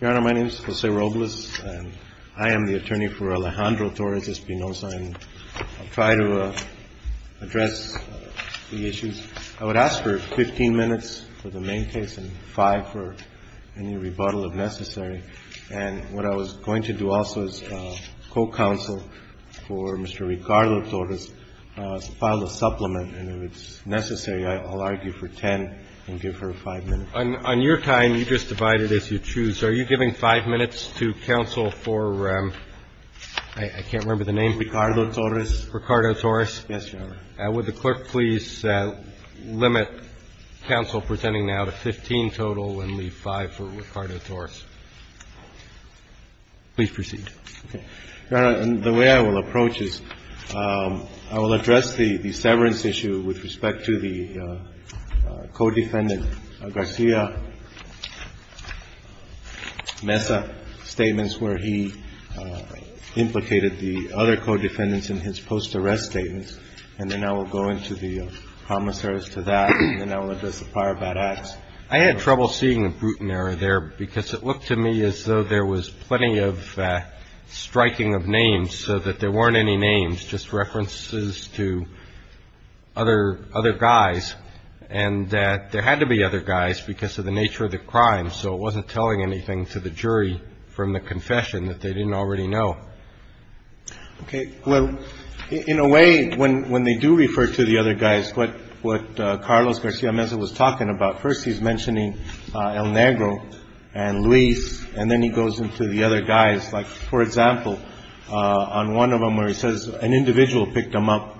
Your Honor, my name is Jose Robles, and I am the attorney for Alejandro Torres-Espinoza, and I'll try to address the issues. I would ask for 15 minutes for the main case and five for any rebuttal, if necessary. And what I was going to do also as co-counsel for Mr. Ricardo-Torres is file a supplement. And if it's necessary, I'll argue for 10 and give her five minutes. On your time, you just divide it as you choose. Are you giving five minutes to counsel for, I can't remember the name. Ricardo-Torres. Ricardo-Torres. Yes, Your Honor. Would the clerk please limit counsel presenting now to 15 total and leave five for Ricardo-Torres. Please proceed. Your Honor, the way I will approach is I will address the severance issue with respect to the co-defendant Garcia Mesa statements where he implicated the other co-defendants in his post-arrest statements, and then I will go into the promissory notes to that, and then I will address the prior bad acts. I had trouble seeing the Bruton error there because it looked to me as though there was plenty of striking of names so that there weren't any names, just references to other guys, and that there had to be other guys because of the nature of the crime, so it wasn't telling anything to the jury from the confession that they didn't already know. Okay. Well, in a way, when they do refer to the other guys, what Carlos Garcia Mesa was talking about, first he's mentioning El Negro and Luis, and then he goes into the other guys. Like, for example, on one of them where he says an individual picked him up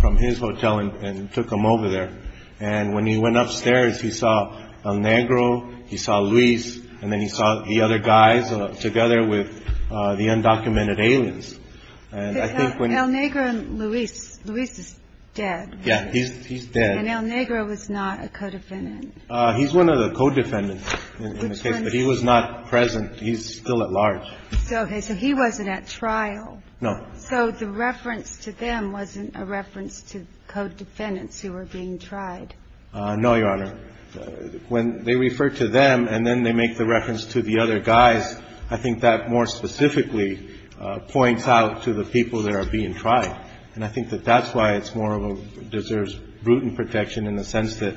from his hotel and took him over there, and when he went upstairs, he saw El Negro, he saw Luis, and then he saw the other guys together with the undocumented aliens. El Negro and Luis. Luis is dead. Yeah. He's dead. And El Negro was not a co-defendant. He's one of the co-defendants in this case, but he was not present. He's still at large. So he wasn't at trial. No. So the reference to them wasn't a reference to co-defendants who were being tried. No, Your Honor. When they refer to them and then they make the reference to the other guys, I think that more specifically points out to the people that are being tried, and I think that that's why it's more of a deserves brutal protection in the sense that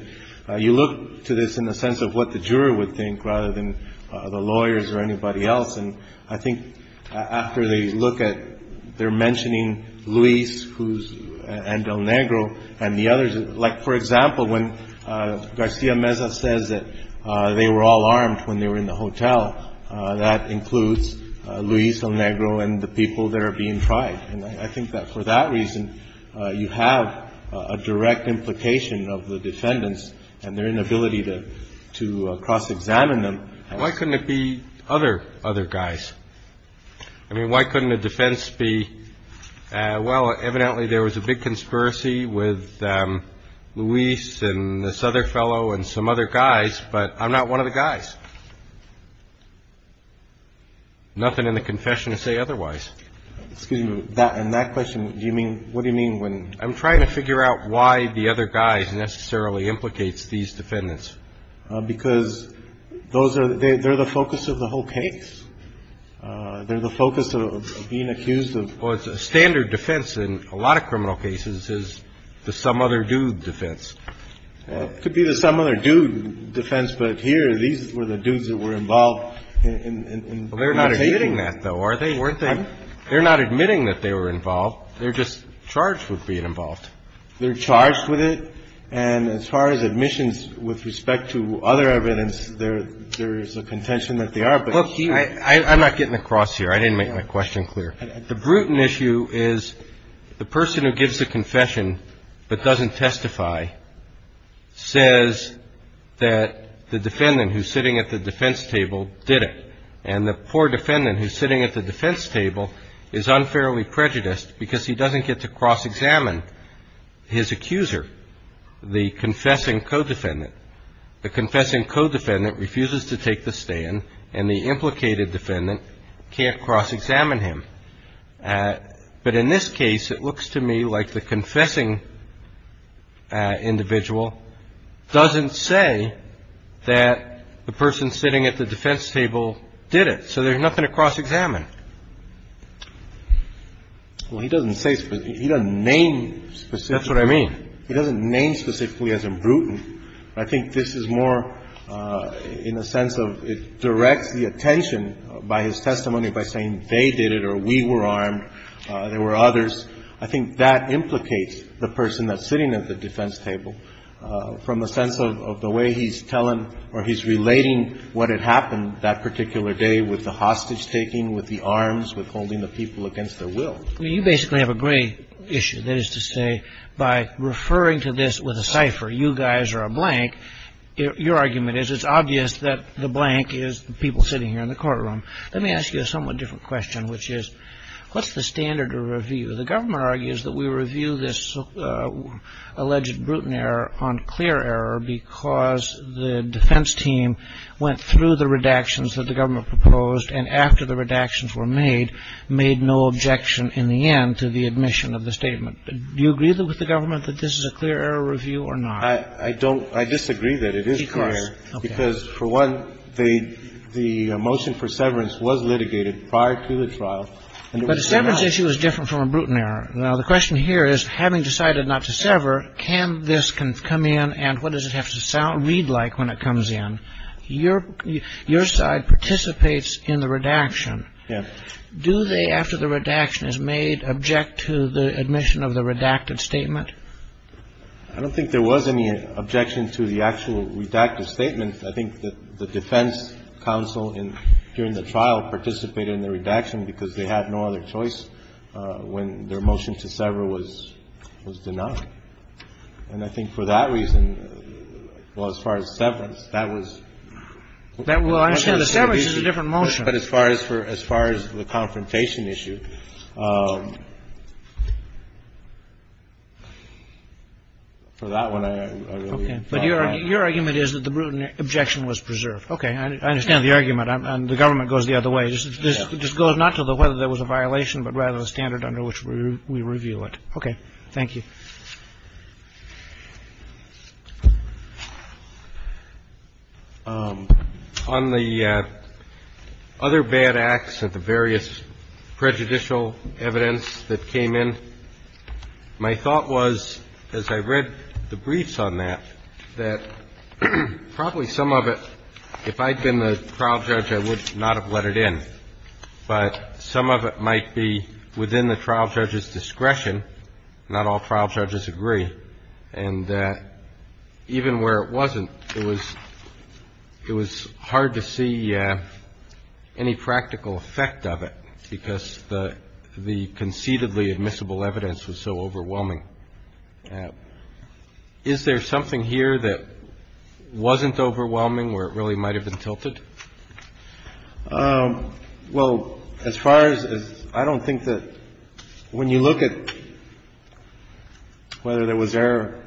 you look to this in the sense of what the juror would think rather than the lawyers or anybody else. And I think after they look at their mentioning Luis and El Negro and the others, like, for example, when Garcia Meza says that they were all armed when they were in the hotel, that includes Luis El Negro and the people that are being tried. And I think that for that reason, you have a direct implication of the defendants and their inability to cross-examine them. Why couldn't it be other guys? I mean, why couldn't the defense be, well, evidently there was a big conspiracy with Luis and this other fellow and some other guys, but I'm not one of the guys. Nothing in the confession to say otherwise. Excuse me. In that question, do you mean, what do you mean when? I'm trying to figure out why the other guy necessarily implicates these defendants. Because those are, they're the focus of the whole case. They're the focus of being accused of. Well, it's a standard defense in a lot of criminal cases is the some other dude defense. It could be the some other dude defense, but here these were the dudes that were involved in. Well, they're not admitting that though, are they? They're not admitting that they were involved. They're just charged with being involved. They're charged with it. And as far as admissions with respect to other evidence, there is a contention that they are. I'm not getting across here. I didn't make my question clear. The brutal issue is the person who gives a confession but doesn't testify says that the defendant who's sitting at the defense table did it and the poor defendant who's sitting at the defense table is unfairly prejudiced because he doesn't get to cross-examine his accuser, the confessing co-defendant. The confessing co-defendant refuses to take the stand and the implicated defendant can't cross-examine him. But in this case, it looks to me like the confessing individual doesn't say that the person sitting at the defense table did it. So there's nothing to cross-examine. Well, he doesn't say, he doesn't name specifically. That's what I mean. He doesn't name specifically as imbrutant. I think this is more in the sense of it directs the attention by his testimony by saying they did it or we were armed, there were others. I think that implicates the person that's sitting at the defense table from the sense of the way he's telling or he's relating what had happened that particular day with the hostage-taking, with the arms, with holding the people against their will. Well, you basically have a gray issue. That is to say, by referring to this with a cipher, you guys are a blank. Your argument is it's obvious that the blank is the people sitting here in the courtroom. Let me ask you a somewhat different question, which is, what's the standard of review? The government argues that we review this alleged brutal error on clear error because the defense team went through the redactions that the government proposed and after the redactions were made, made no objection in the end to the admission of the statement. Do you agree with the government that this is a clear error review or not? I don't. I disagree that it is clear error. Because, for one, the motion for severance was litigated prior to the trial. But a severance issue is different from a brutal error. Now, the question here is, having decided not to sever, can this come in and what does it have to read like when it comes in? Your side participates in the redaction. Yeah. Do they, after the redaction is made, object to the admission of the redacted statement? I don't think there was any objection to the actual redacted statement. I think that the defense counsel during the trial participated in the redaction because they had no other choice when their motion to sever was denied. And I think for that reason, well, as far as severance, that was. Well, I understand the severance is a different motion. But as far as for as far as the confrontation issue, for that one, I really. But your argument is that the brutal objection was preserved. Okay. I understand the argument. And the government goes the other way. This just goes not to whether there was a violation, but rather the standard under which we review it. Okay. Thank you. On the other bad acts and the various prejudicial evidence that came in, my thought was, as I read the briefs on that, that probably some of it, if I had been the trial judge, I would not have let it in. But some of it might be within the trial judge's discretion. Not all trial judges agree. And even where it wasn't, it was hard to see any practical effect of it because the conceitedly admissible evidence was so overwhelming. Is there something here that wasn't overwhelming where it really might have been tilted? Well, as far as I don't think that when you look at whether there was error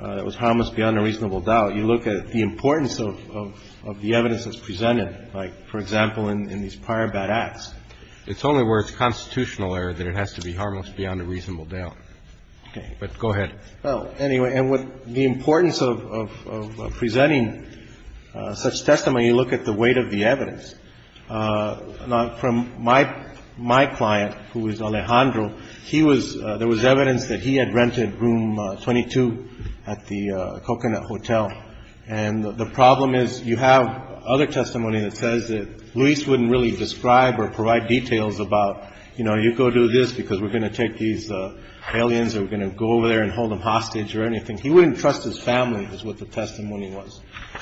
that was harmless beyond a reasonable doubt, you look at the importance of the evidence that's presented, like, for example, in these prior bad acts. It's only where it's constitutional error that it has to be harmless beyond a reasonable doubt. Okay. But go ahead. Well, anyway, and with the importance of presenting such testimony, you look at the weight of the evidence. From my client, who was Alejandro, he was there was evidence that he had rented room 22 at the Coconut Hotel. And the problem is you have other testimony that says that Luis wouldn't really describe or provide details about, you know, you go do this because we're going to take these aliens or we're going to go over there and hold them hostage or anything. He wouldn't trust his family is what the testimony was.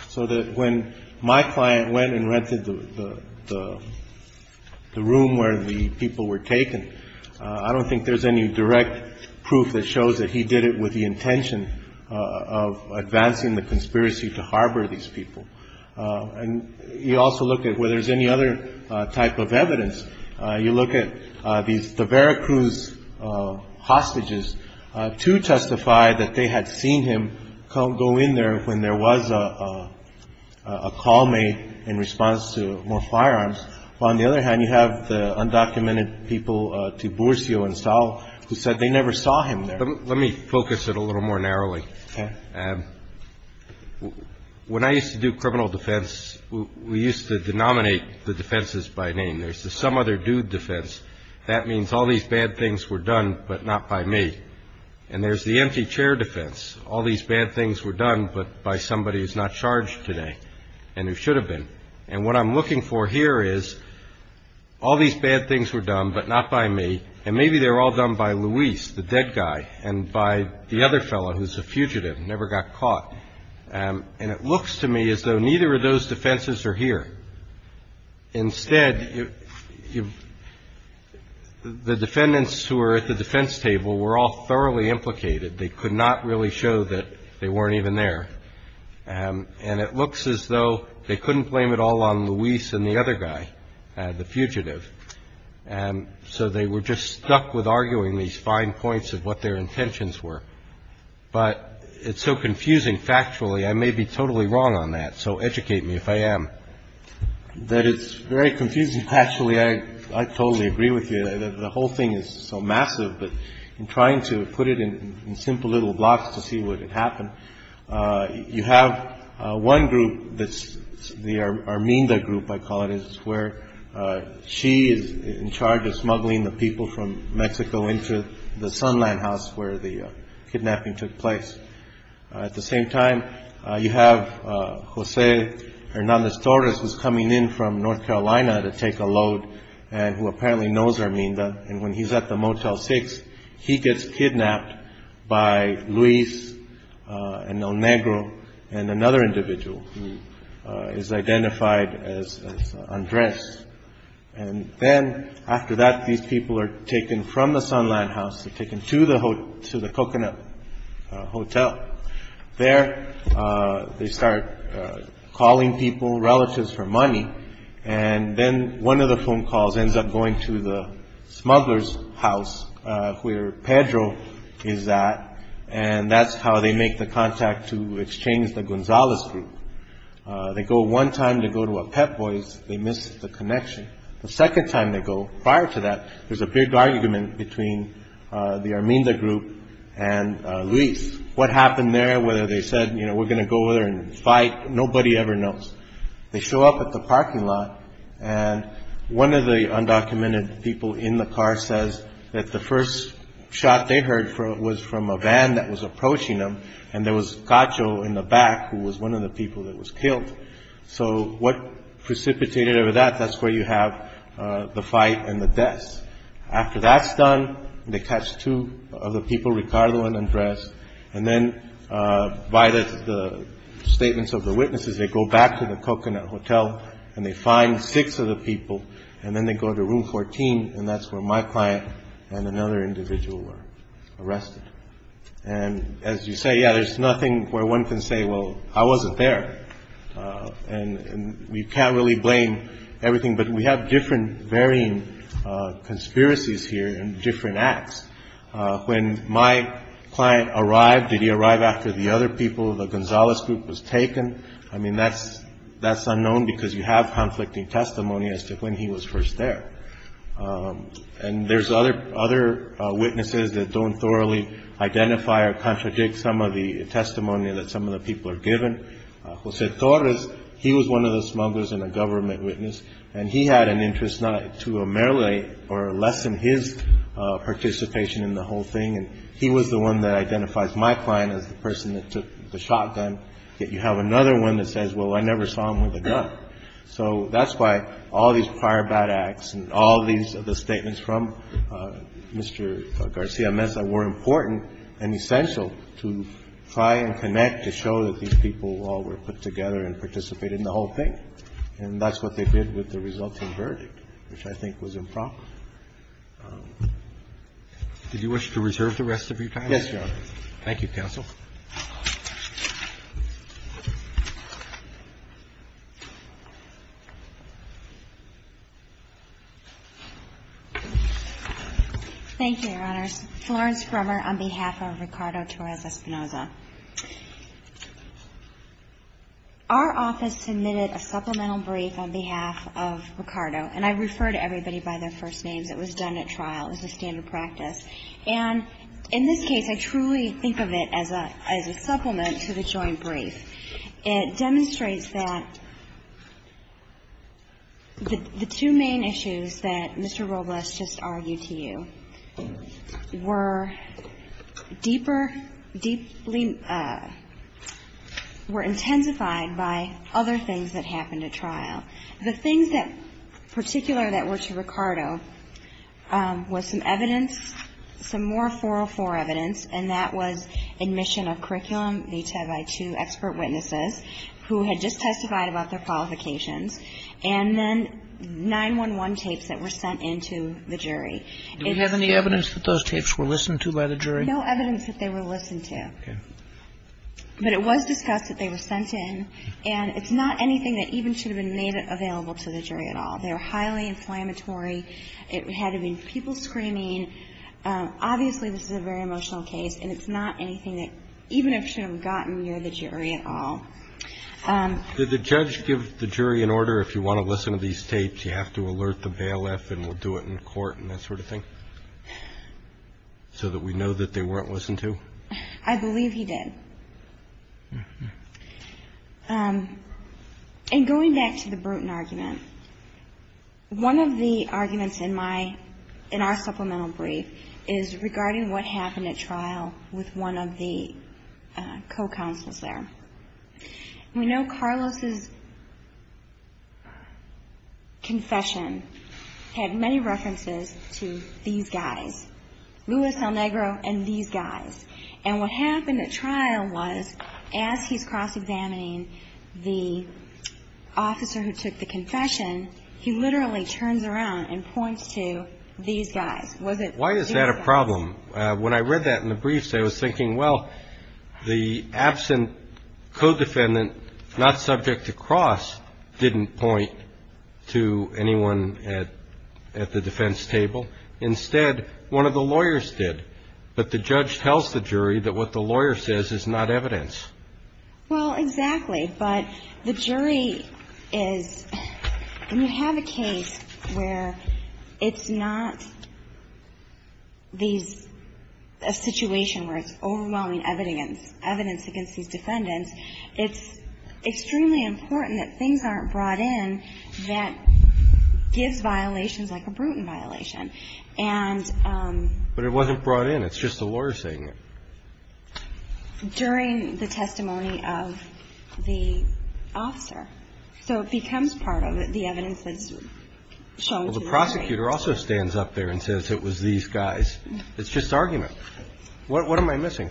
So that when my client went and rented the room where the people were taken, I don't think there's any direct proof that shows that he did it with the intention of advancing the conspiracy to harbor these people. And you also look at whether there's any other type of evidence. You look at these, the Veracruz hostages, two testified that they had seen him go in there when there was a call made in response to more firearms. On the other hand, you have the undocumented people, Tiburcio and Saul, who said they never saw him there. Let me focus it a little more narrowly. Okay. When I used to do criminal defense, we used to denominate the defenses by name. There's the some other dude defense. That means all these bad things were done, but not by me. And there's the empty chair defense. All these bad things were done, but by somebody who's not charged today and who should have been. And what I'm looking for here is all these bad things were done, but not by me. And maybe they were all done by Luis, the dead guy, and by the other fellow who's a fugitive, never got caught. And it looks to me as though neither of those defenses are here. Instead, the defendants who were at the defense table were all thoroughly implicated. They could not really show that they weren't even there. And it looks as though they couldn't blame it all on Luis and the other guy, the fugitive. And so they were just stuck with arguing these fine points of what their intentions were. But it's so confusing factually, I may be totally wrong on that. So educate me if I am. That it's very confusing factually, I totally agree with you. The whole thing is so massive, but in trying to put it in simple little blocks to see what would happen, you have one group that's the Arminda group, I call it, is where she is in charge of smuggling the people from Mexico into the Sunland house where the kidnapping took place. At the same time, you have Jose Hernandez Torres who's coming in from North Carolina to take a load and who apparently knows Arminda. And when he's at the Motel 6, he gets kidnapped by Luis and El Negro and another individual who is identified as Andres. And then after that, these people are taken from the Sunland house, they're taken to the coconut hotel. There they start calling people, relatives for money. And then one of the phone calls ends up going to the smugglers house where Pedro is at. And that's how they make the contact to exchange the Gonzalez group. They go one time to go to a Pep Boys. They missed the connection. The second time they go prior to that, there's a big argument between the Arminda group and Luis. What happened there, whether they said, you know, we're going to go there and fight, nobody ever knows. They show up at the parking lot. And one of the undocumented people in the car says that the first shot they heard was from a van that was approaching them. And there was Cacho in the back, who was one of the people that was killed. So what precipitated over that, that's where you have the fight and the deaths. After that's done, they catch two of the people, Ricardo and Andres. And then by the statements of the witnesses, they go back to the coconut hotel and they find six of the people. And then they go to room 14. And that's where my client and another individual were arrested. And as you say, yeah, there's nothing where one can say, well, I wasn't there. And we can't really blame everything, but we have different varying conspiracies here and different acts. When my client arrived, did he arrive after the other people of the Gonzalez group was taken? I mean, that's that's unknown because you have conflicting testimony as to when he was first there. And there's other other witnesses that don't thoroughly identify or contradict some of the testimony that some of the people are given. Jose Torres, he was one of the smugglers and a government witness. And he had an interest not to ameliorate or lessen his participation in the whole thing. And he was the one that identifies my client as the person that took the shotgun. Yet you have another one that says, well, I never saw him with a gun. So that's why all these prior bad acts and all these are the statements from Mr. Garcia-Mesa were important and essential to try and connect to show that these people all were put together and participated in the whole thing. And that's what they did with the resulting verdict, which I think was improper. Roberts. Did you wish to reserve the rest of your time? Yes, Your Honor. Thank you, counsel. Thank you, Your Honors. Florence Grummer on behalf of Ricardo Torres-Espinoza. Our office submitted a supplemental brief on behalf of Ricardo, and I refer to everybody by their first names. It was done at trial. It was a standard practice. And in this case, I truly think of it as a supplemental brief. It demonstrates that the two main issues that Mr. Robles just argued to you were deeper, deeply, were intensified by other things that happened at trial. The things that particular that were to Ricardo was some evidence, some more 404 evidence, and that was admission of curriculum, each had by two expert witnesses who had just testified about their qualifications, and then 911 tapes that were sent in to the jury. Do we have any evidence that those tapes were listened to by the jury? No evidence that they were listened to. Okay. But it was discussed that they were sent in. And it's not anything that even should have been made available to the jury at all. They were highly inflammatory. It had to be people screaming. Obviously, this is a very emotional case, and it's not anything that even if should have gotten near the jury at all. Did the judge give the jury an order if you want to listen to these tapes, you have to alert the bailiff and we'll do it in court and that sort of thing so that we know that they weren't listened to? I believe he did. And going back to the Bruton argument, one of the arguments in our supplemental brief is regarding what happened at trial with one of the co-counsels there. We know Carlos' confession had many references to these guys, Luis El Negro and these guys, and what happened at trial was as he's cross-examining the officer who took the confession, he literally turns around and points to these guys. Why is that a problem? When I read that in the briefs, I was thinking, well, the absent co-defendant, not subject to cross, didn't point to anyone at the defense table. Instead, one of the lawyers did. But the judge tells the jury that what the lawyer says is not evidence. Well, exactly. But the jury is, when you have a case where it's not a situation where it's overwhelming evidence, evidence against these defendants, it's extremely important that things aren't brought in that gives violations like a Bruton violation. But it wasn't brought in. It's just the lawyer saying it. And the judge actually says it's not a violation, but the judge has to say it during the testimony of the officer. So it becomes part of it, the evidence that's shown to the jury. Well, the prosecutor also stands up there and says it was these guys. It's just argument. What am I missing?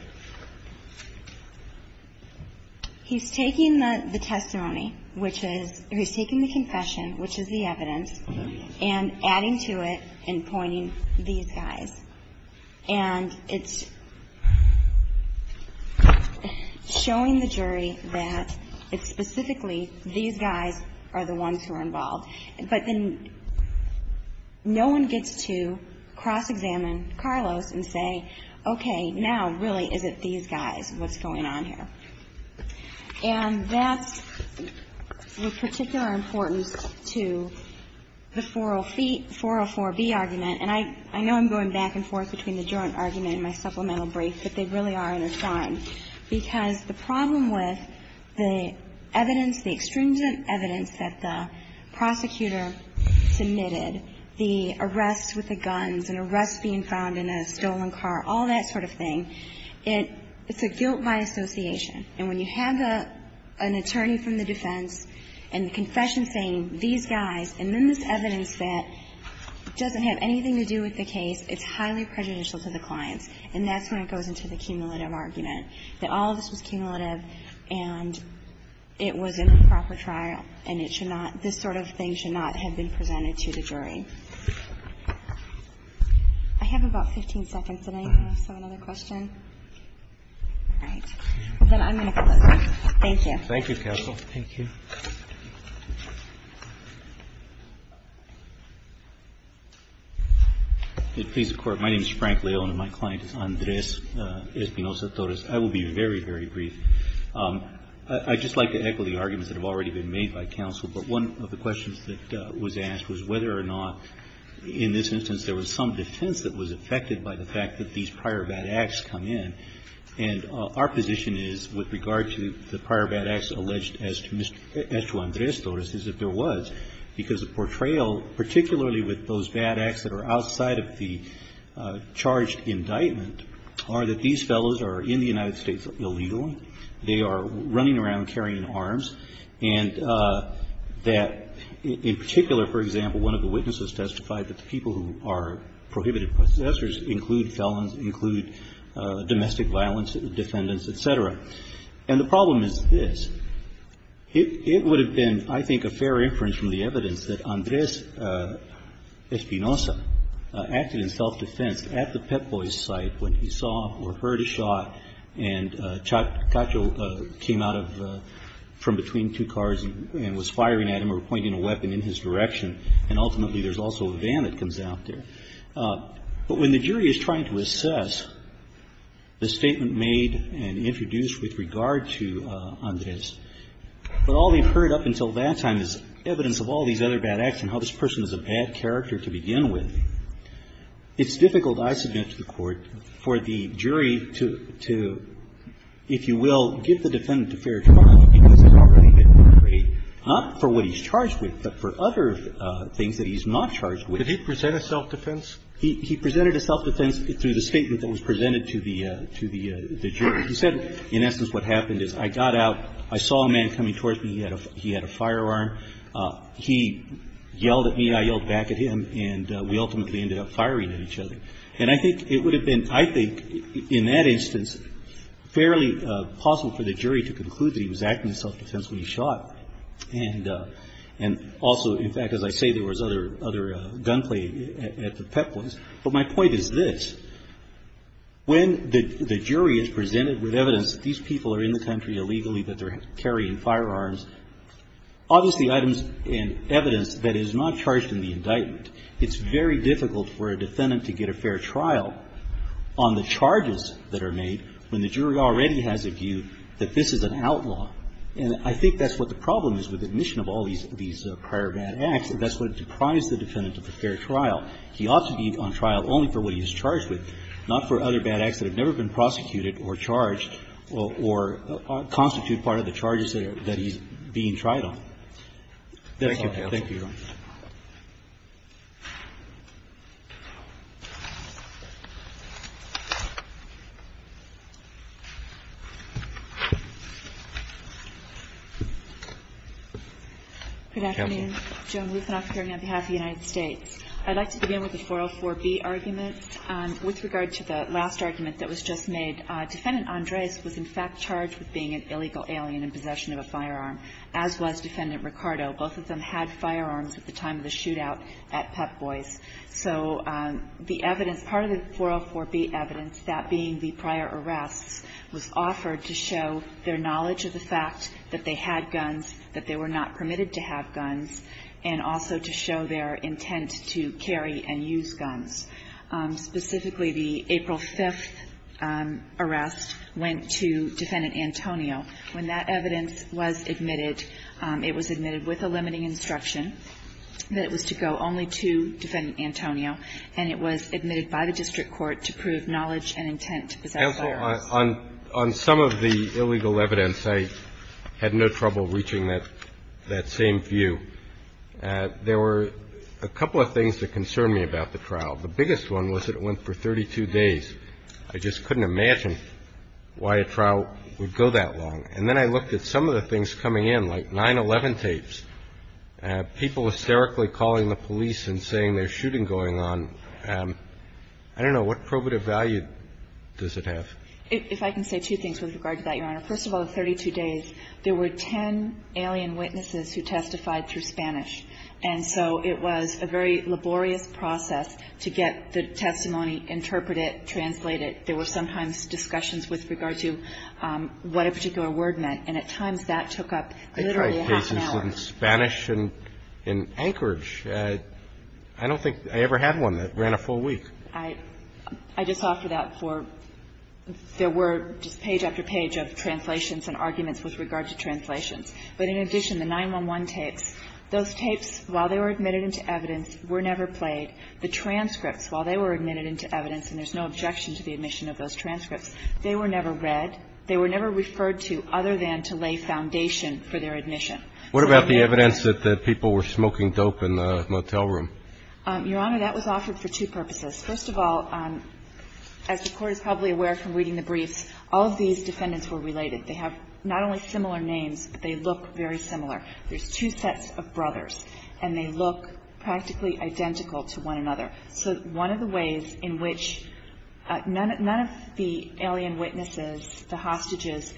He's taking the testimony, which is he's taking the confession, which is the evidence, showing the jury that it's specifically these guys are the ones who are involved. But then no one gets to cross-examine Carlos and say, okay, now, really, is it these guys? What's going on here? And that's of particular importance to the 404B argument. And I know I'm going back and forth between the joint argument and my supplemental brief, but they really are an assignment. Because the problem with the evidence, the extrinsic evidence that the prosecutor submitted, the arrests with the guns and arrests being found in a stolen car, all that sort of thing, it's a guilt by association. And when you have an attorney from the defense and the confession saying these guys, and then this evidence that doesn't have anything to do with the case, it's highly prejudicial to the clients, and that's when it goes into the cumulative argument, that all of this was cumulative and it was in the proper trial and it should not, this sort of thing should not have been presented to the jury. I have about 15 seconds. Does anyone have some other questions? All right. Then I'm going to close. Thank you. Thank you, counsel. Thank you. Frank Leone. My name is Frank Leone and my client is Andres Espinoza-Torres. I will be very, very brief. I'd just like to echo the arguments that have already been made by counsel, but one of the questions that was asked was whether or not in this instance there was some defense that was affected by the fact that these prior bad acts come in. And our position is, with regard to the prior bad acts alleged as to Andres Torres, is that there was, because the portrayal, particularly with those bad acts that are outside of the charged indictment, are that these fellows are in the United States illegal, they are running around carrying arms, and that in particular, for example, one of the witnesses testified that the people who are prohibited possessors include felons, include domestic violence defendants, et cetera. And the problem is this. It would have been, I think, a fair inference from the evidence that Andres Espinoza acted in self-defense at the Pep Boys site when he saw or heard a shot and Cacho came out from between two cars and was firing at him or pointing a weapon in his direction, and ultimately there's also a van that comes out there. But when the jury is trying to assess the statement made and introduced with regard to Andres, but all they've heard up until that time is evidence of all these other bad acts and how this person is a bad character to begin with, it's difficult, I submit to the Court, for the jury to, if you will, give the defendant a fair charge because it's already been portrayed, not for what he's charged with, but for other things that he's not charged with. Roberts. Did he present a self-defense? He presented a self-defense through the statement that was presented to the jury. He said, in essence, what happened is I got out, I saw a man coming towards me. He had a firearm. He yelled at me. I yelled back at him. And we ultimately ended up firing at each other. And I think it would have been, I think, in that instance, fairly possible for the defendant to have acted in self-defense when he shot. And also, in fact, as I say, there was other gunplay at the pet place. But my point is this. When the jury is presented with evidence that these people are in the country illegally, that they're carrying firearms, obviously items and evidence that is not charged in the indictment, it's very difficult for a defendant to get a fair trial on the charges that are made when the jury already has a view that this is an outlaw. And I think that's what the problem is with admission of all these prior bad acts. That's what deprives the defendant of a fair trial. He ought to be on trial only for what he's charged with, not for other bad acts that have never been prosecuted or charged or constitute part of the charges that he's being tried on. Thank you. Thank you, Your Honor. Good afternoon. Joan Lufthansaus here on behalf of the United States. I'd like to begin with the 404B argument. With regard to the last argument that was just made, Defendant Andres was in fact charged with being an illegal alien in possession of a firearm, as was Defendant Ricardo. Both of them had firearms at the time of the shootout at Pep Boys. So the evidence, part of the 404B evidence, that being the prior arrests, was offered to show their knowledge of the fact that they had guns, that they were not permitted to have guns, and also to show their intent to carry and use guns. Specifically, the April 5th arrest went to Defendant Antonio. When that evidence was admitted, it was admitted with a limiting instruction that it was to go only to Defendant Antonio, and it was admitted by the district court to prove knowledge and intent to possess firearms. Counsel, on some of the illegal evidence, I had no trouble reaching that same view. There were a couple of things that concern me about the trial. The biggest one was that it went for 32 days. I just couldn't imagine why a trial would go that long. And then I looked at some of the things coming in, like 9-11 tapes, people hysterically calling the police and saying there's shooting going on. I don't know. What probative value does it have? If I can say two things with regard to that, Your Honor. First of all, the 32 days, there were 10 alien witnesses who testified through Spanish, and so it was a very laborious process to get the testimony interpreted, get translated. There were sometimes discussions with regard to what a particular word meant, and at times that took up literally half an hour. I tried cases in Spanish and in Anchorage. I don't think I ever had one that ran a full week. I just offered that for the word, just page after page of translations and arguments with regard to translations. But in addition, the 9-11 tapes, those tapes, while they were admitted into evidence, were never played. The transcripts, while they were admitted into evidence, and there's no objection to the admission of those transcripts, they were never read. They were never referred to other than to lay foundation for their admission. So I think that's the reason. What about the evidence that people were smoking dope in the motel room? Your Honor, that was offered for two purposes. First of all, as the Court is probably aware from reading the briefs, all of these defendants were related. They have not only similar names, but they look very similar. There's two sets of brothers, and they look practically identical to one another. So one of the ways in which none of the alien witnesses, the hostages,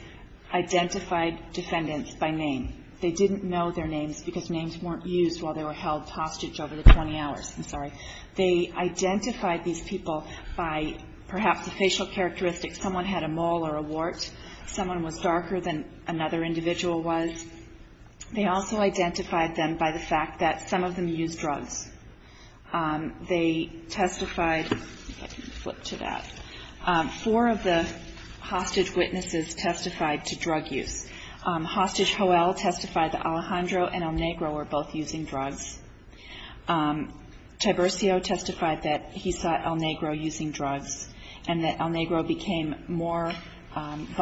identified defendants by name. They didn't know their names because names weren't used while they were held hostage over the 20 hours. I'm sorry. They identified these people by perhaps the facial characteristics. Someone had a mole or a wart. Someone was darker than another individual was. They also identified them by the fact that some of them used drugs. They testified to that. Four of the hostage witnesses testified to drug use. Hostage Hoell testified that Alejandro and El Negro were both using drugs. Tiburcio testified that he saw El Negro using drugs and that El Negro became more He testified that he saw El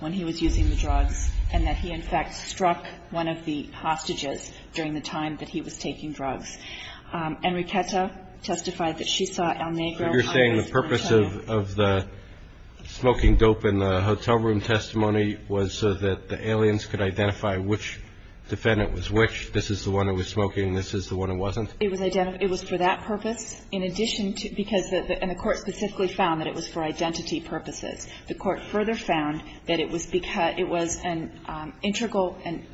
Negro near the hotel room during the day and that El Negro had struck one of the hostages during the time that he was taking drugs. Enriqueta testified that she saw El Negro on his drone. Roberts. So you're saying the purpose of the smoking dope in the hotel room testimony was so that the aliens could identify which defendant was which? This is the one who was smoking. This is the one who wasn't? It was for that purpose. In addition to because the court specifically found that it was for identity purposes. The court further found that it was an integral and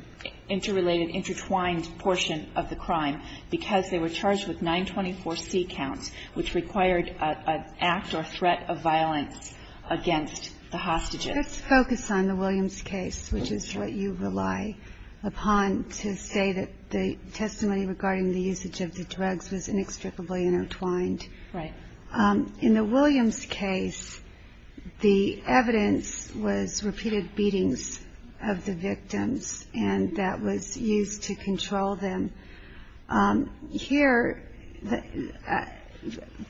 interrelated, intertwined portion of the crime because they were charged with 924C counts, which required an act or threat of violence against the hostages. Let us focus on the Williams case, which is what you rely upon to say that the testimony regarding the usage of the drugs was inextricably intertwined. Right. In the Williams case, the evidence was repeated beatings of the victims and that was used to control them. Here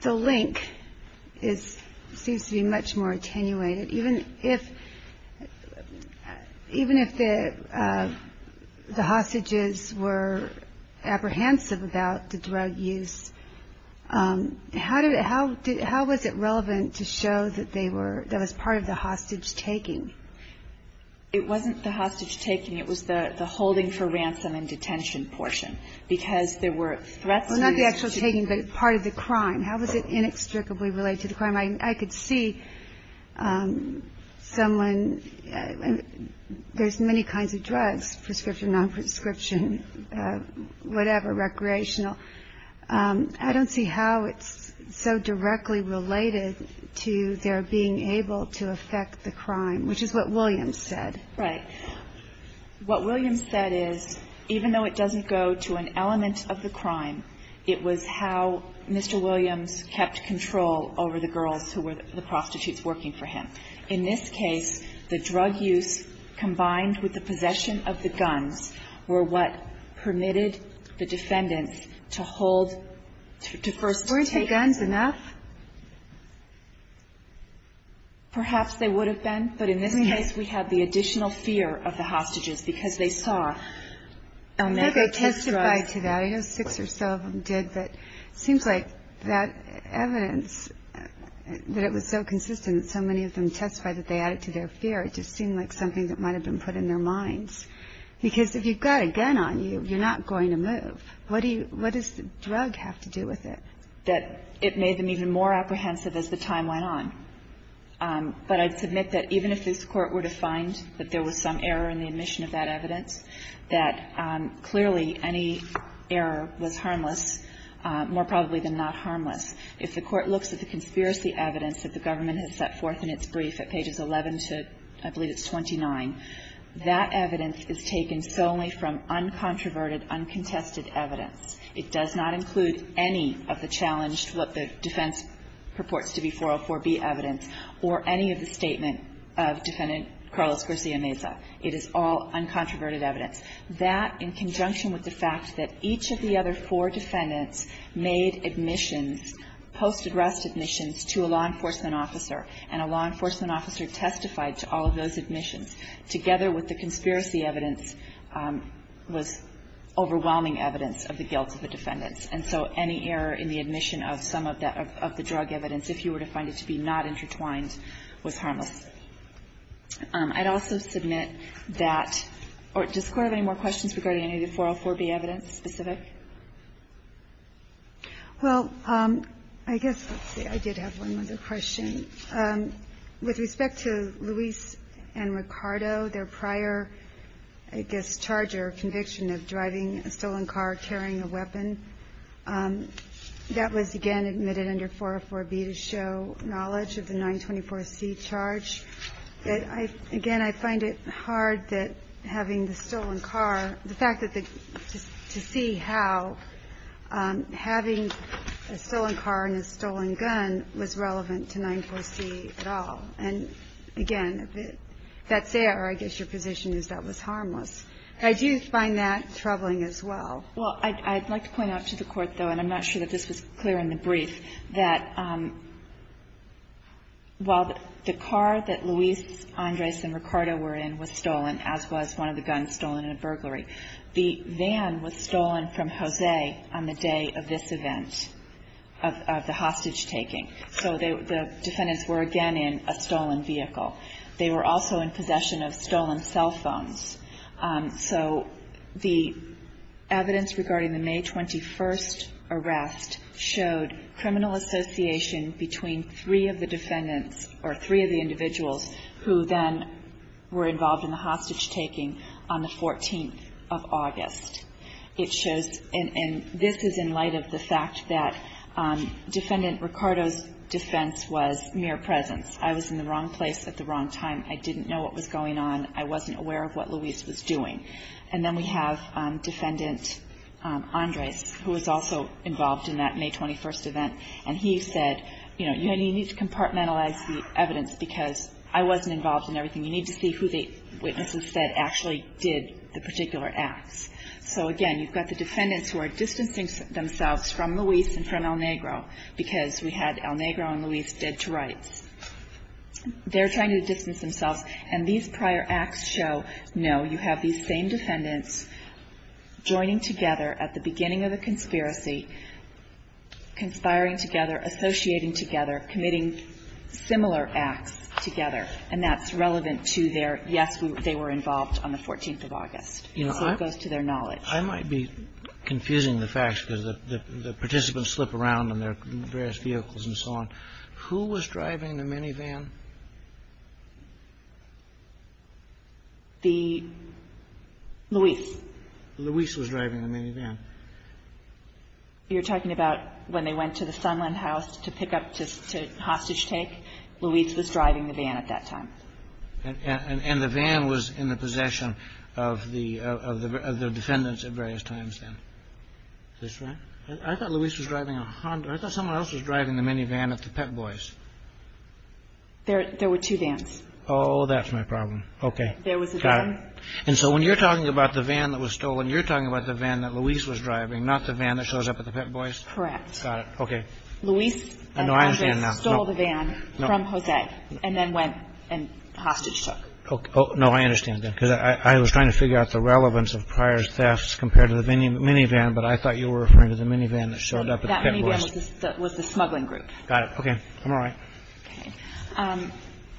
the link seems to be much more attenuated. Even if the hostages were apprehensive about the drug use, how was it relevant to show that that was part of the hostage taking? It wasn't the hostage taking. It was the holding for ransom and detention portion because there were threats. Well, not the actual taking, but part of the crime. I could see someone, there's many kinds of drugs, prescription, non-prescription, whatever, recreational. I don't see how it's so directly related to their being able to affect the crime, which is what Williams said. Right. What Williams said is even though it doesn't go to an element of the crime, it was how Mr. Williams kept control over the girls who were the prostitutes working for him. In this case, the drug use combined with the possession of the guns were what permitted the defendants to hold, to first take. Weren't the guns enough? Perhaps they would have been. But in this case, we have the additional fear of the hostages because they saw I know they testified to that. I know six or so of them did. But it seems like that evidence, that it was so consistent that so many of them testified that they added to their fear, it just seemed like something that might have been put in their minds. Because if you've got a gun on you, you're not going to move. What does the drug have to do with it? That it made them even more apprehensive as the time went on. But I'd submit that even if this Court were to find that there was some error in the admission of that evidence, that clearly any error was harmless, more probably than not harmless, if the Court looks at the conspiracy evidence that the government has set forth in its brief at pages 11 to, I believe it's 29, that evidence is taken solely from uncontroverted, uncontested evidence. It does not include any of the challenged, what the defense purports to be 404B evidence, or any of the statement of Defendant Carlos Garcia Meza. It is all uncontroverted evidence. That, in conjunction with the fact that each of the other four defendants made admissions, post-arrest admissions, to a law enforcement officer, and a law enforcement officer testified to all of those admissions, together with the conspiracy evidence was overwhelming evidence of the guilt of the defendants. And so any error in the admission of some of the drug evidence, if you were to find it to be not intertwined, was harmless. I'd also submit that or does the Court have any more questions regarding any of the 404B evidence specific? Well, I guess, let's see, I did have one other question. With respect to Luis and Ricardo, their prior, I guess, charge or conviction of driving a stolen car carrying a weapon, that was again admitted under 404B to show knowledge of the 924C charge. Again, I find it hard that having the stolen car, the fact that the, to see how having a stolen car and a stolen gun was relevant to 924C at all. And again, if that's there, I guess your position is that was harmless. I do find that troubling as well. Well, I'd like to point out to the Court, though, and I'm not sure that this was clear in the brief, that while the car that Luis, Andres, and Ricardo were in was stolen, as was one of the guns stolen in a burglary, the van was stolen from Jose on the day of this event, of the hostage taking. So the defendants were again in a stolen vehicle. They were also in possession of stolen cell phones. So the evidence regarding the May 21 arrest showed criminal association between three of the defendants or three of the individuals who then were involved in the hostage taking on the 14th of August. It shows, and this is in light of the fact that Defendant Ricardo's defense was mere presence. I was in the wrong place at the wrong time. I didn't know what was going on. I wasn't aware of what Luis was doing. And then we have Defendant Andres, who was also involved in that May 21 event, and he said, you know, you need to compartmentalize the evidence because I wasn't involved in everything. You need to see who the witnesses said actually did the particular acts. So again, you've got the defendants who are distancing themselves from Luis and from El Negro because we had El Negro and Luis dead to rights. They're trying to distance themselves. And these prior acts show, no, you have these same defendants joining together at the beginning of the conspiracy, conspiring together, associating together, committing similar acts together, and that's relevant to their, yes, they were involved on the 14th of August. So it goes to their knowledge. I might be confusing the facts because the participants slip around in their various vehicles and so on. Who was driving the minivan? The Luis. Luis was driving the minivan. You're talking about when they went to the Sunland House to pick up to hostage take? Luis was driving the van at that time. And the van was in the possession of the defendants at various times then. Is this right? I thought Luis was driving a Honda. I thought someone else was driving the minivan at the Pep Boys. There were two vans. Oh, that's my problem. Okay. There was a van. Got it. And so when you're talking about the van that was stolen, you're talking about the van that Luis was driving, not the van that shows up at the Pep Boys? Correct. Got it. Okay. Luis and Andres stole the van from Jose and then went and hostage took. No, I understand that because I was trying to figure out the relevance of prior thefts compared to the minivan, but I thought you were referring to the minivan that showed up at the Pep Boys. That minivan was the smuggling group. Got it. Okay. I'm all right. Okay.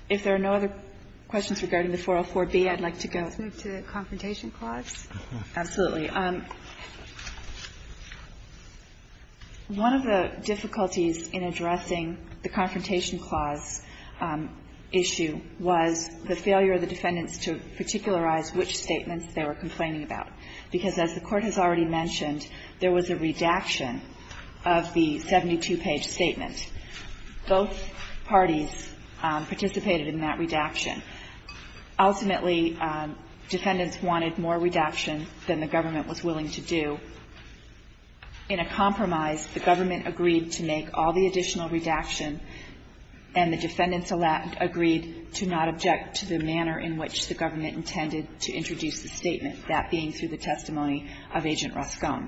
If there are no other questions regarding the 404B, I'd like to go to the Confrontation Clause. Absolutely. One of the difficulties in addressing the Confrontation Clause issue was the failure of the defendants to particularize which statements they were complaining about. Because, as the Court has already mentioned, there was a redaction of the 72-page statement. Both parties participated in that redaction. Ultimately, defendants wanted more redaction than the government was willing to do. In a compromise, the government agreed to make all the additional redaction and the defendants agreed to not object to the manner in which the government intended to introduce the testimony of Agent Roscoe.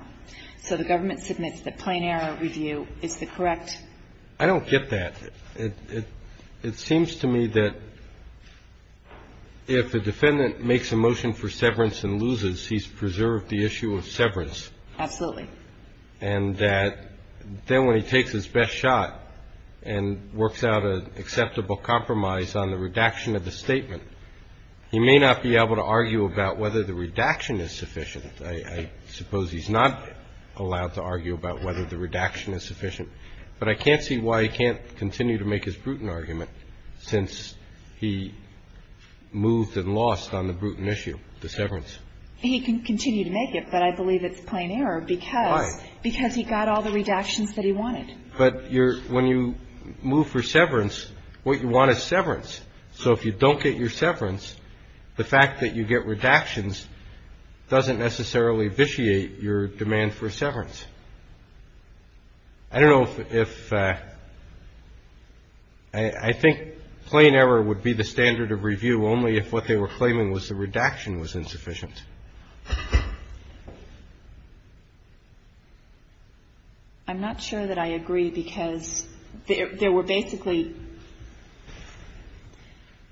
So the government submits the plain error review. Is that correct? I don't get that. It seems to me that if the defendant makes a motion for severance and loses, he's preserved the issue of severance. Absolutely. And then when he takes his best shot and works out an acceptable compromise on the redaction of the I suppose he's not allowed to argue about whether the redaction is sufficient. But I can't see why he can't continue to make his Bruton argument since he moved and lost on the Bruton issue, the severance. He can continue to make it, but I believe it's plain error because he got all the redactions that he wanted. But when you move for severance, what you want is severance. So if you don't get your severance, the fact that you get redactions doesn't necessarily vitiate your demand for severance. I don't know if I think plain error would be the standard of review only if what they were claiming was the redaction was insufficient. I'm not sure that I agree, because there were basically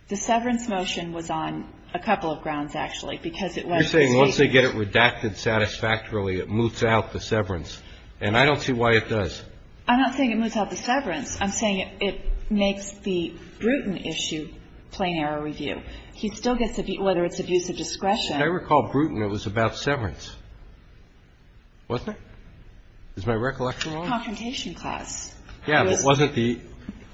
the severance motion was on a couple of grounds, actually, because it wasn't stated. You're saying once they get it redacted satisfactorily, it moves out the severance. And I don't see why it does. I'm not saying it moves out the severance. I'm saying it makes the Bruton issue plain error review. He still gets, whether it's abuse of discretion. I recall Bruton, it was about severance, wasn't it? Is my recollection wrong? Confrontation clause. Yeah, but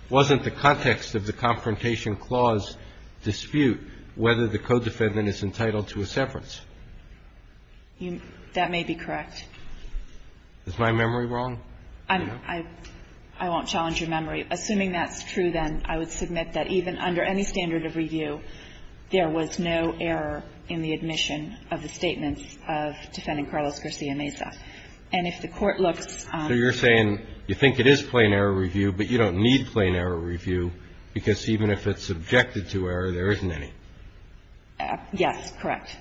wasn't the context of the confrontation clause dispute whether the code defendant is entitled to a severance? That may be correct. Is my memory wrong? I won't challenge your memory. Assuming that's true, then, I would submit that even under any standard of review, there was no error in the admission of the statements of Defendant Carlos Garcia-Meza. And if the Court looks on the other side of the line, there is no error. So you're saying you think it is plain error review, but you don't need plain error review, because even if it's subjected to error, there isn't any. Yes, correct.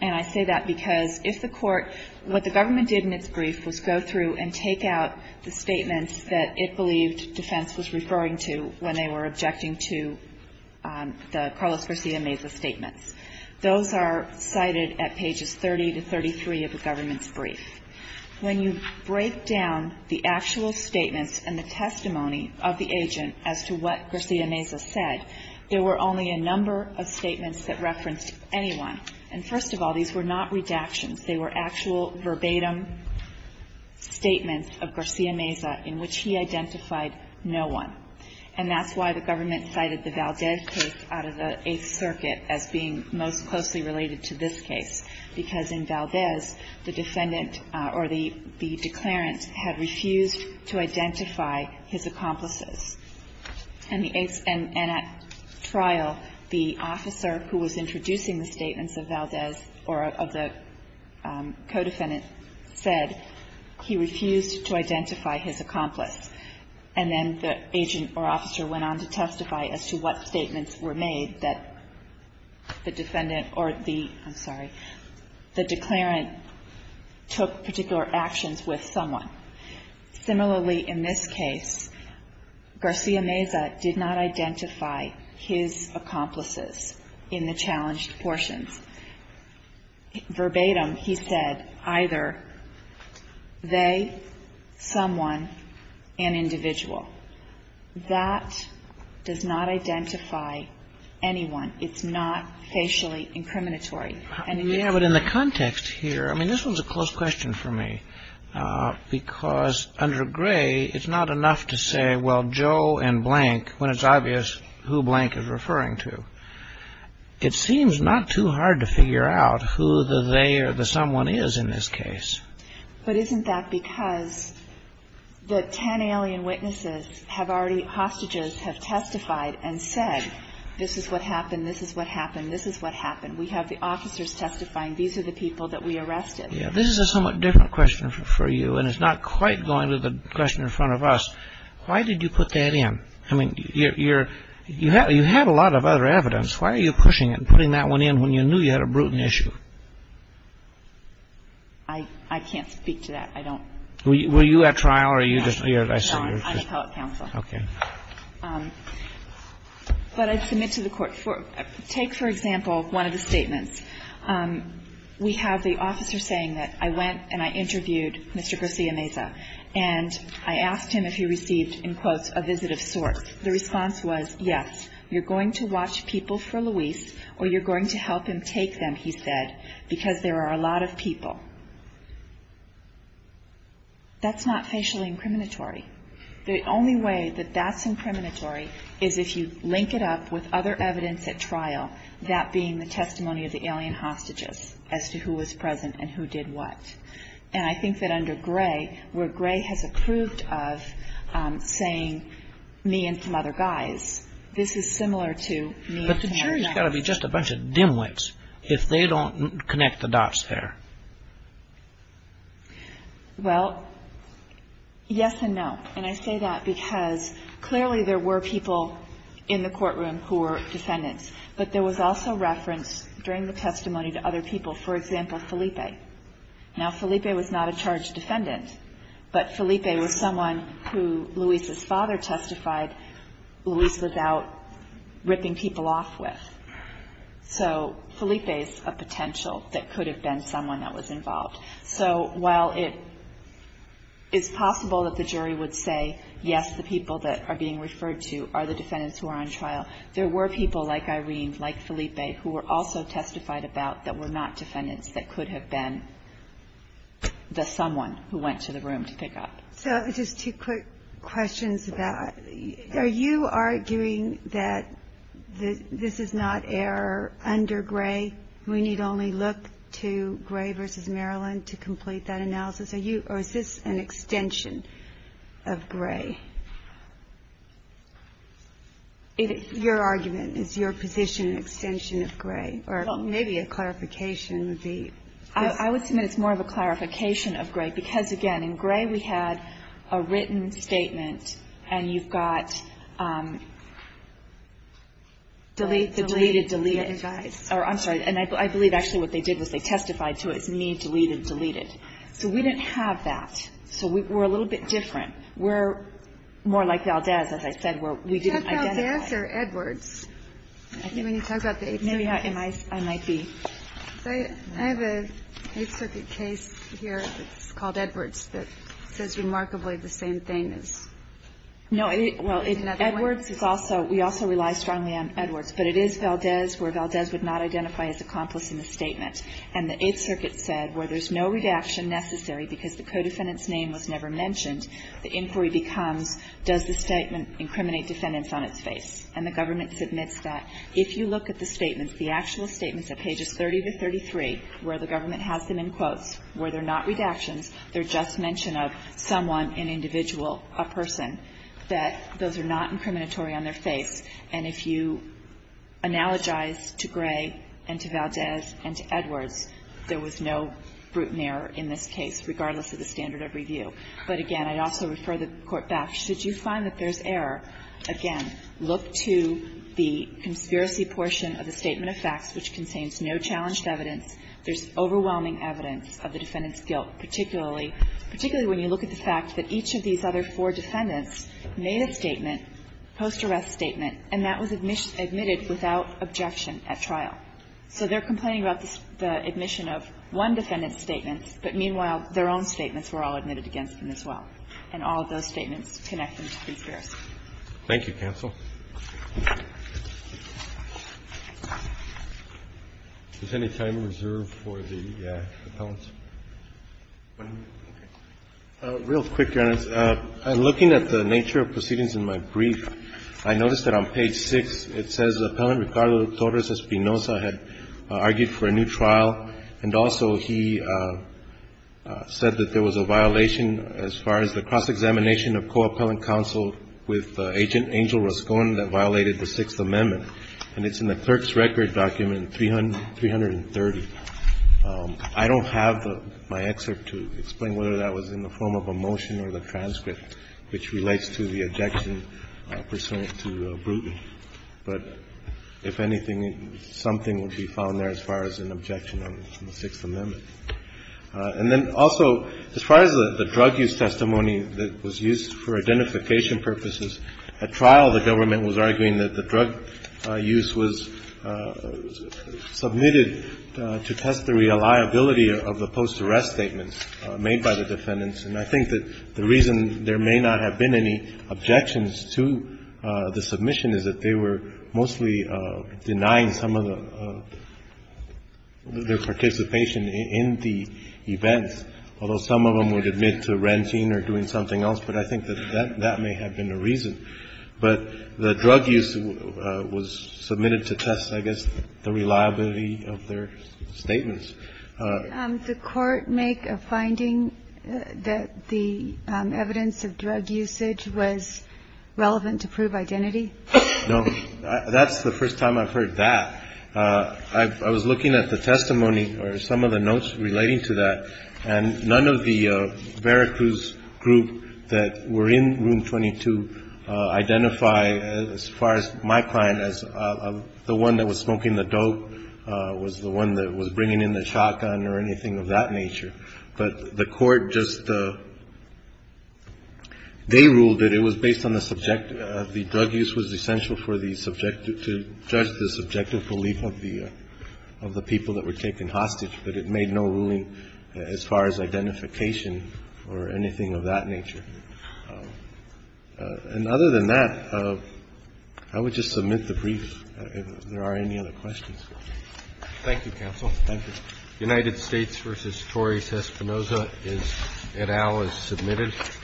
And I say that because if the Court, what the government did in its brief was go through and take out the statements that it believed defense was referring to when they were objecting to the Carlos Garcia-Meza statements. Those are cited at pages 30 to 33 of the government's brief. When you break down the actual statements and the testimony of the agent as to what Garcia-Meza said, there were only a number of statements that referenced anyone. And first of all, these were not redactions. They were actual verbatim statements of Garcia-Meza in which he identified no one. And that's why the government cited the Valdez case out of the Eighth Circuit as being most closely related to this case, because in Valdez, the defendant or the declarant had refused to identify his accomplices. And at trial, the officer who was introducing the statements of Valdez or of the defendant or the co-defendant said he refused to identify his accomplice. And then the agent or officer went on to testify as to what statements were made that the defendant or the, I'm sorry, the declarant took particular actions with someone. Similarly, in this case, Garcia-Meza did not identify his accomplices in the challenged portions. Verbatim, he said either they, someone, and individual. That does not identify anyone. It's not facially incriminatory. And in this case. Yeah, but in the context here, I mean, this was a close question for me, because under Gray, it's not enough to say, well, Joe and blank, when it's obvious who blank is referring to. It seems not too hard to figure out who the they or the someone is in this case. But isn't that because the ten alien witnesses have already, hostages have testified and said, this is what happened, this is what happened, this is what happened. We have the officers testifying, these are the people that we arrested. Yeah, this is a somewhat different question for you, and it's not quite going to the question in front of us. Why did you put that in? I mean, you're, you have a lot of other evidence. Why are you pushing it and putting that one in when you knew you had a brutal issue? I, I can't speak to that. I don't. Were you at trial or are you just. No, I'm appellate counsel. Okay. But I submit to the Court. Take, for example, one of the statements. We have the officer saying that I went and I interviewed Mr. Garcia Meza, and I asked him if he received, in quotes, a visit of sorts. The response was, yes. You're going to watch people for Luis, or you're going to help him take them, he said, because there are a lot of people. That's not facially incriminatory. The only way that that's incriminatory is if you link it up with other evidence at trial, that being the testimony of the alien hostages as to who was present and who did what. And I think that under Gray, where Gray has approved of saying me and some other guys, this is similar to me and some other guys. But the jury's got to be just a bunch of dimwits if they don't connect the dots there. Well, yes and no. And I say that because clearly there were people in the courtroom who were defendants, but there was also reference during the testimony to other people, for example, Felipe. Now, Felipe was not a charged defendant, but Felipe was someone who Luis's father testified, Luis was out ripping people off with. So Felipe is a potential that could have been someone that was involved. So while it is possible that the jury would say, yes, the people that are being referred to are the defendants who are on trial, there were people like Irene, like Felipe, who were also testified about that were not defendants that could have been the someone who went to the room to pick up. So just two quick questions about, are you arguing that this is not error under Gray? We need only look to Gray v. Maryland to complete that analysis, or is this an extension of Gray? Your argument, is your position an extension of Gray? Or maybe a clarification would be. I would submit it's more of a clarification of Gray because, again, in Gray we had a written statement and you've got deleted, deleted, deleted. I'm sorry. And I believe actually what they did was they testified to it as me, deleted, deleted. So we didn't have that. So we're a little bit different. We're more like Valdez, as I said, where we didn't identify. Is that Valdez or Edwards? When you talk about the Eighth Circuit. Maybe I might be. I have an Eighth Circuit case here that's called Edwards that says remarkably the same thing. No, well, Edwards is also, we also rely strongly on Edwards. But it is Valdez where Valdez would not identify as accomplice in the statement. And the Eighth Circuit said where there's no redaction necessary because the codefendant's name was never mentioned, the inquiry becomes does the statement incriminate defendants on its face. And the government submits that. If you look at the statements, the actual statements at pages 30 to 33, where the government has them in quotes, where they're not redactions, they're just mention of someone, an individual, a person, that those are not incriminatory on their face. And if you analogize to Gray and to Valdez and to Edwards, there was no brute merit in this case, regardless of the standard of review. But, again, I'd also refer the Court back. Should you find that there's error, again, look to the conspiracy portion of the statement of facts which contains no challenged evidence. There's overwhelming evidence of the defendant's guilt, particularly when you look at the fact that each of these other four defendants made a statement, post-arrest statement, and that was admitted without objection at trial. So they're complaining about the admission of one defendant's statement, but, meanwhile, their own statements were all admitted against them as well. And all of those statements connect them to conspiracy. Roberts. Thank you, counsel. Is there any time reserved for the appellants? Real quick, Your Honor. Looking at the nature of proceedings in my brief, I noticed that on page 6, it says appellant Ricardo Torres Espinoza had argued for a new trial and also he said that there was a violation as far as the cross-examination of co-appellant counsel with agent Angel Roscon that violated the Sixth Amendment. And it's in the clerk's record document 330. I don't have my excerpt to explain whether that was in the form of a motion or the If anything, something would be found there as far as an objection on the Sixth Amendment. And then also, as far as the drug use testimony that was used for identification purposes, at trial the government was arguing that the drug use was submitted to test the reliability of the post-arrest statements made by the defendants. And I think that the reason there may not have been any objections to the submission is that they were mostly denying some of the participation in the events, although some of them would admit to renting or doing something else. But I think that that may have been the reason. But the drug use was submitted to test, I guess, the reliability of their statements. Did the Court make a finding that the evidence of drug usage was relevant to prove identity? No. That's the first time I've heard that. I was looking at the testimony or some of the notes relating to that, and none of the Veracruz group that were in Room 22 identify, as far as my client, as the one that was smoking the dope, was the one that was bringing in the shotgun or anything of that nature. But the Court just, they ruled that it was based on the subject of the drug use was essential for the subject to judge the subjective belief of the people that were taken hostage, but it made no ruling as far as identification or anything of that nature. And other than that, I would just submit the brief if there are any other questions. Thank you, Counsel. Thank you. United States v. Torres-Espinoza, Ed Al, is submitted. Thank you.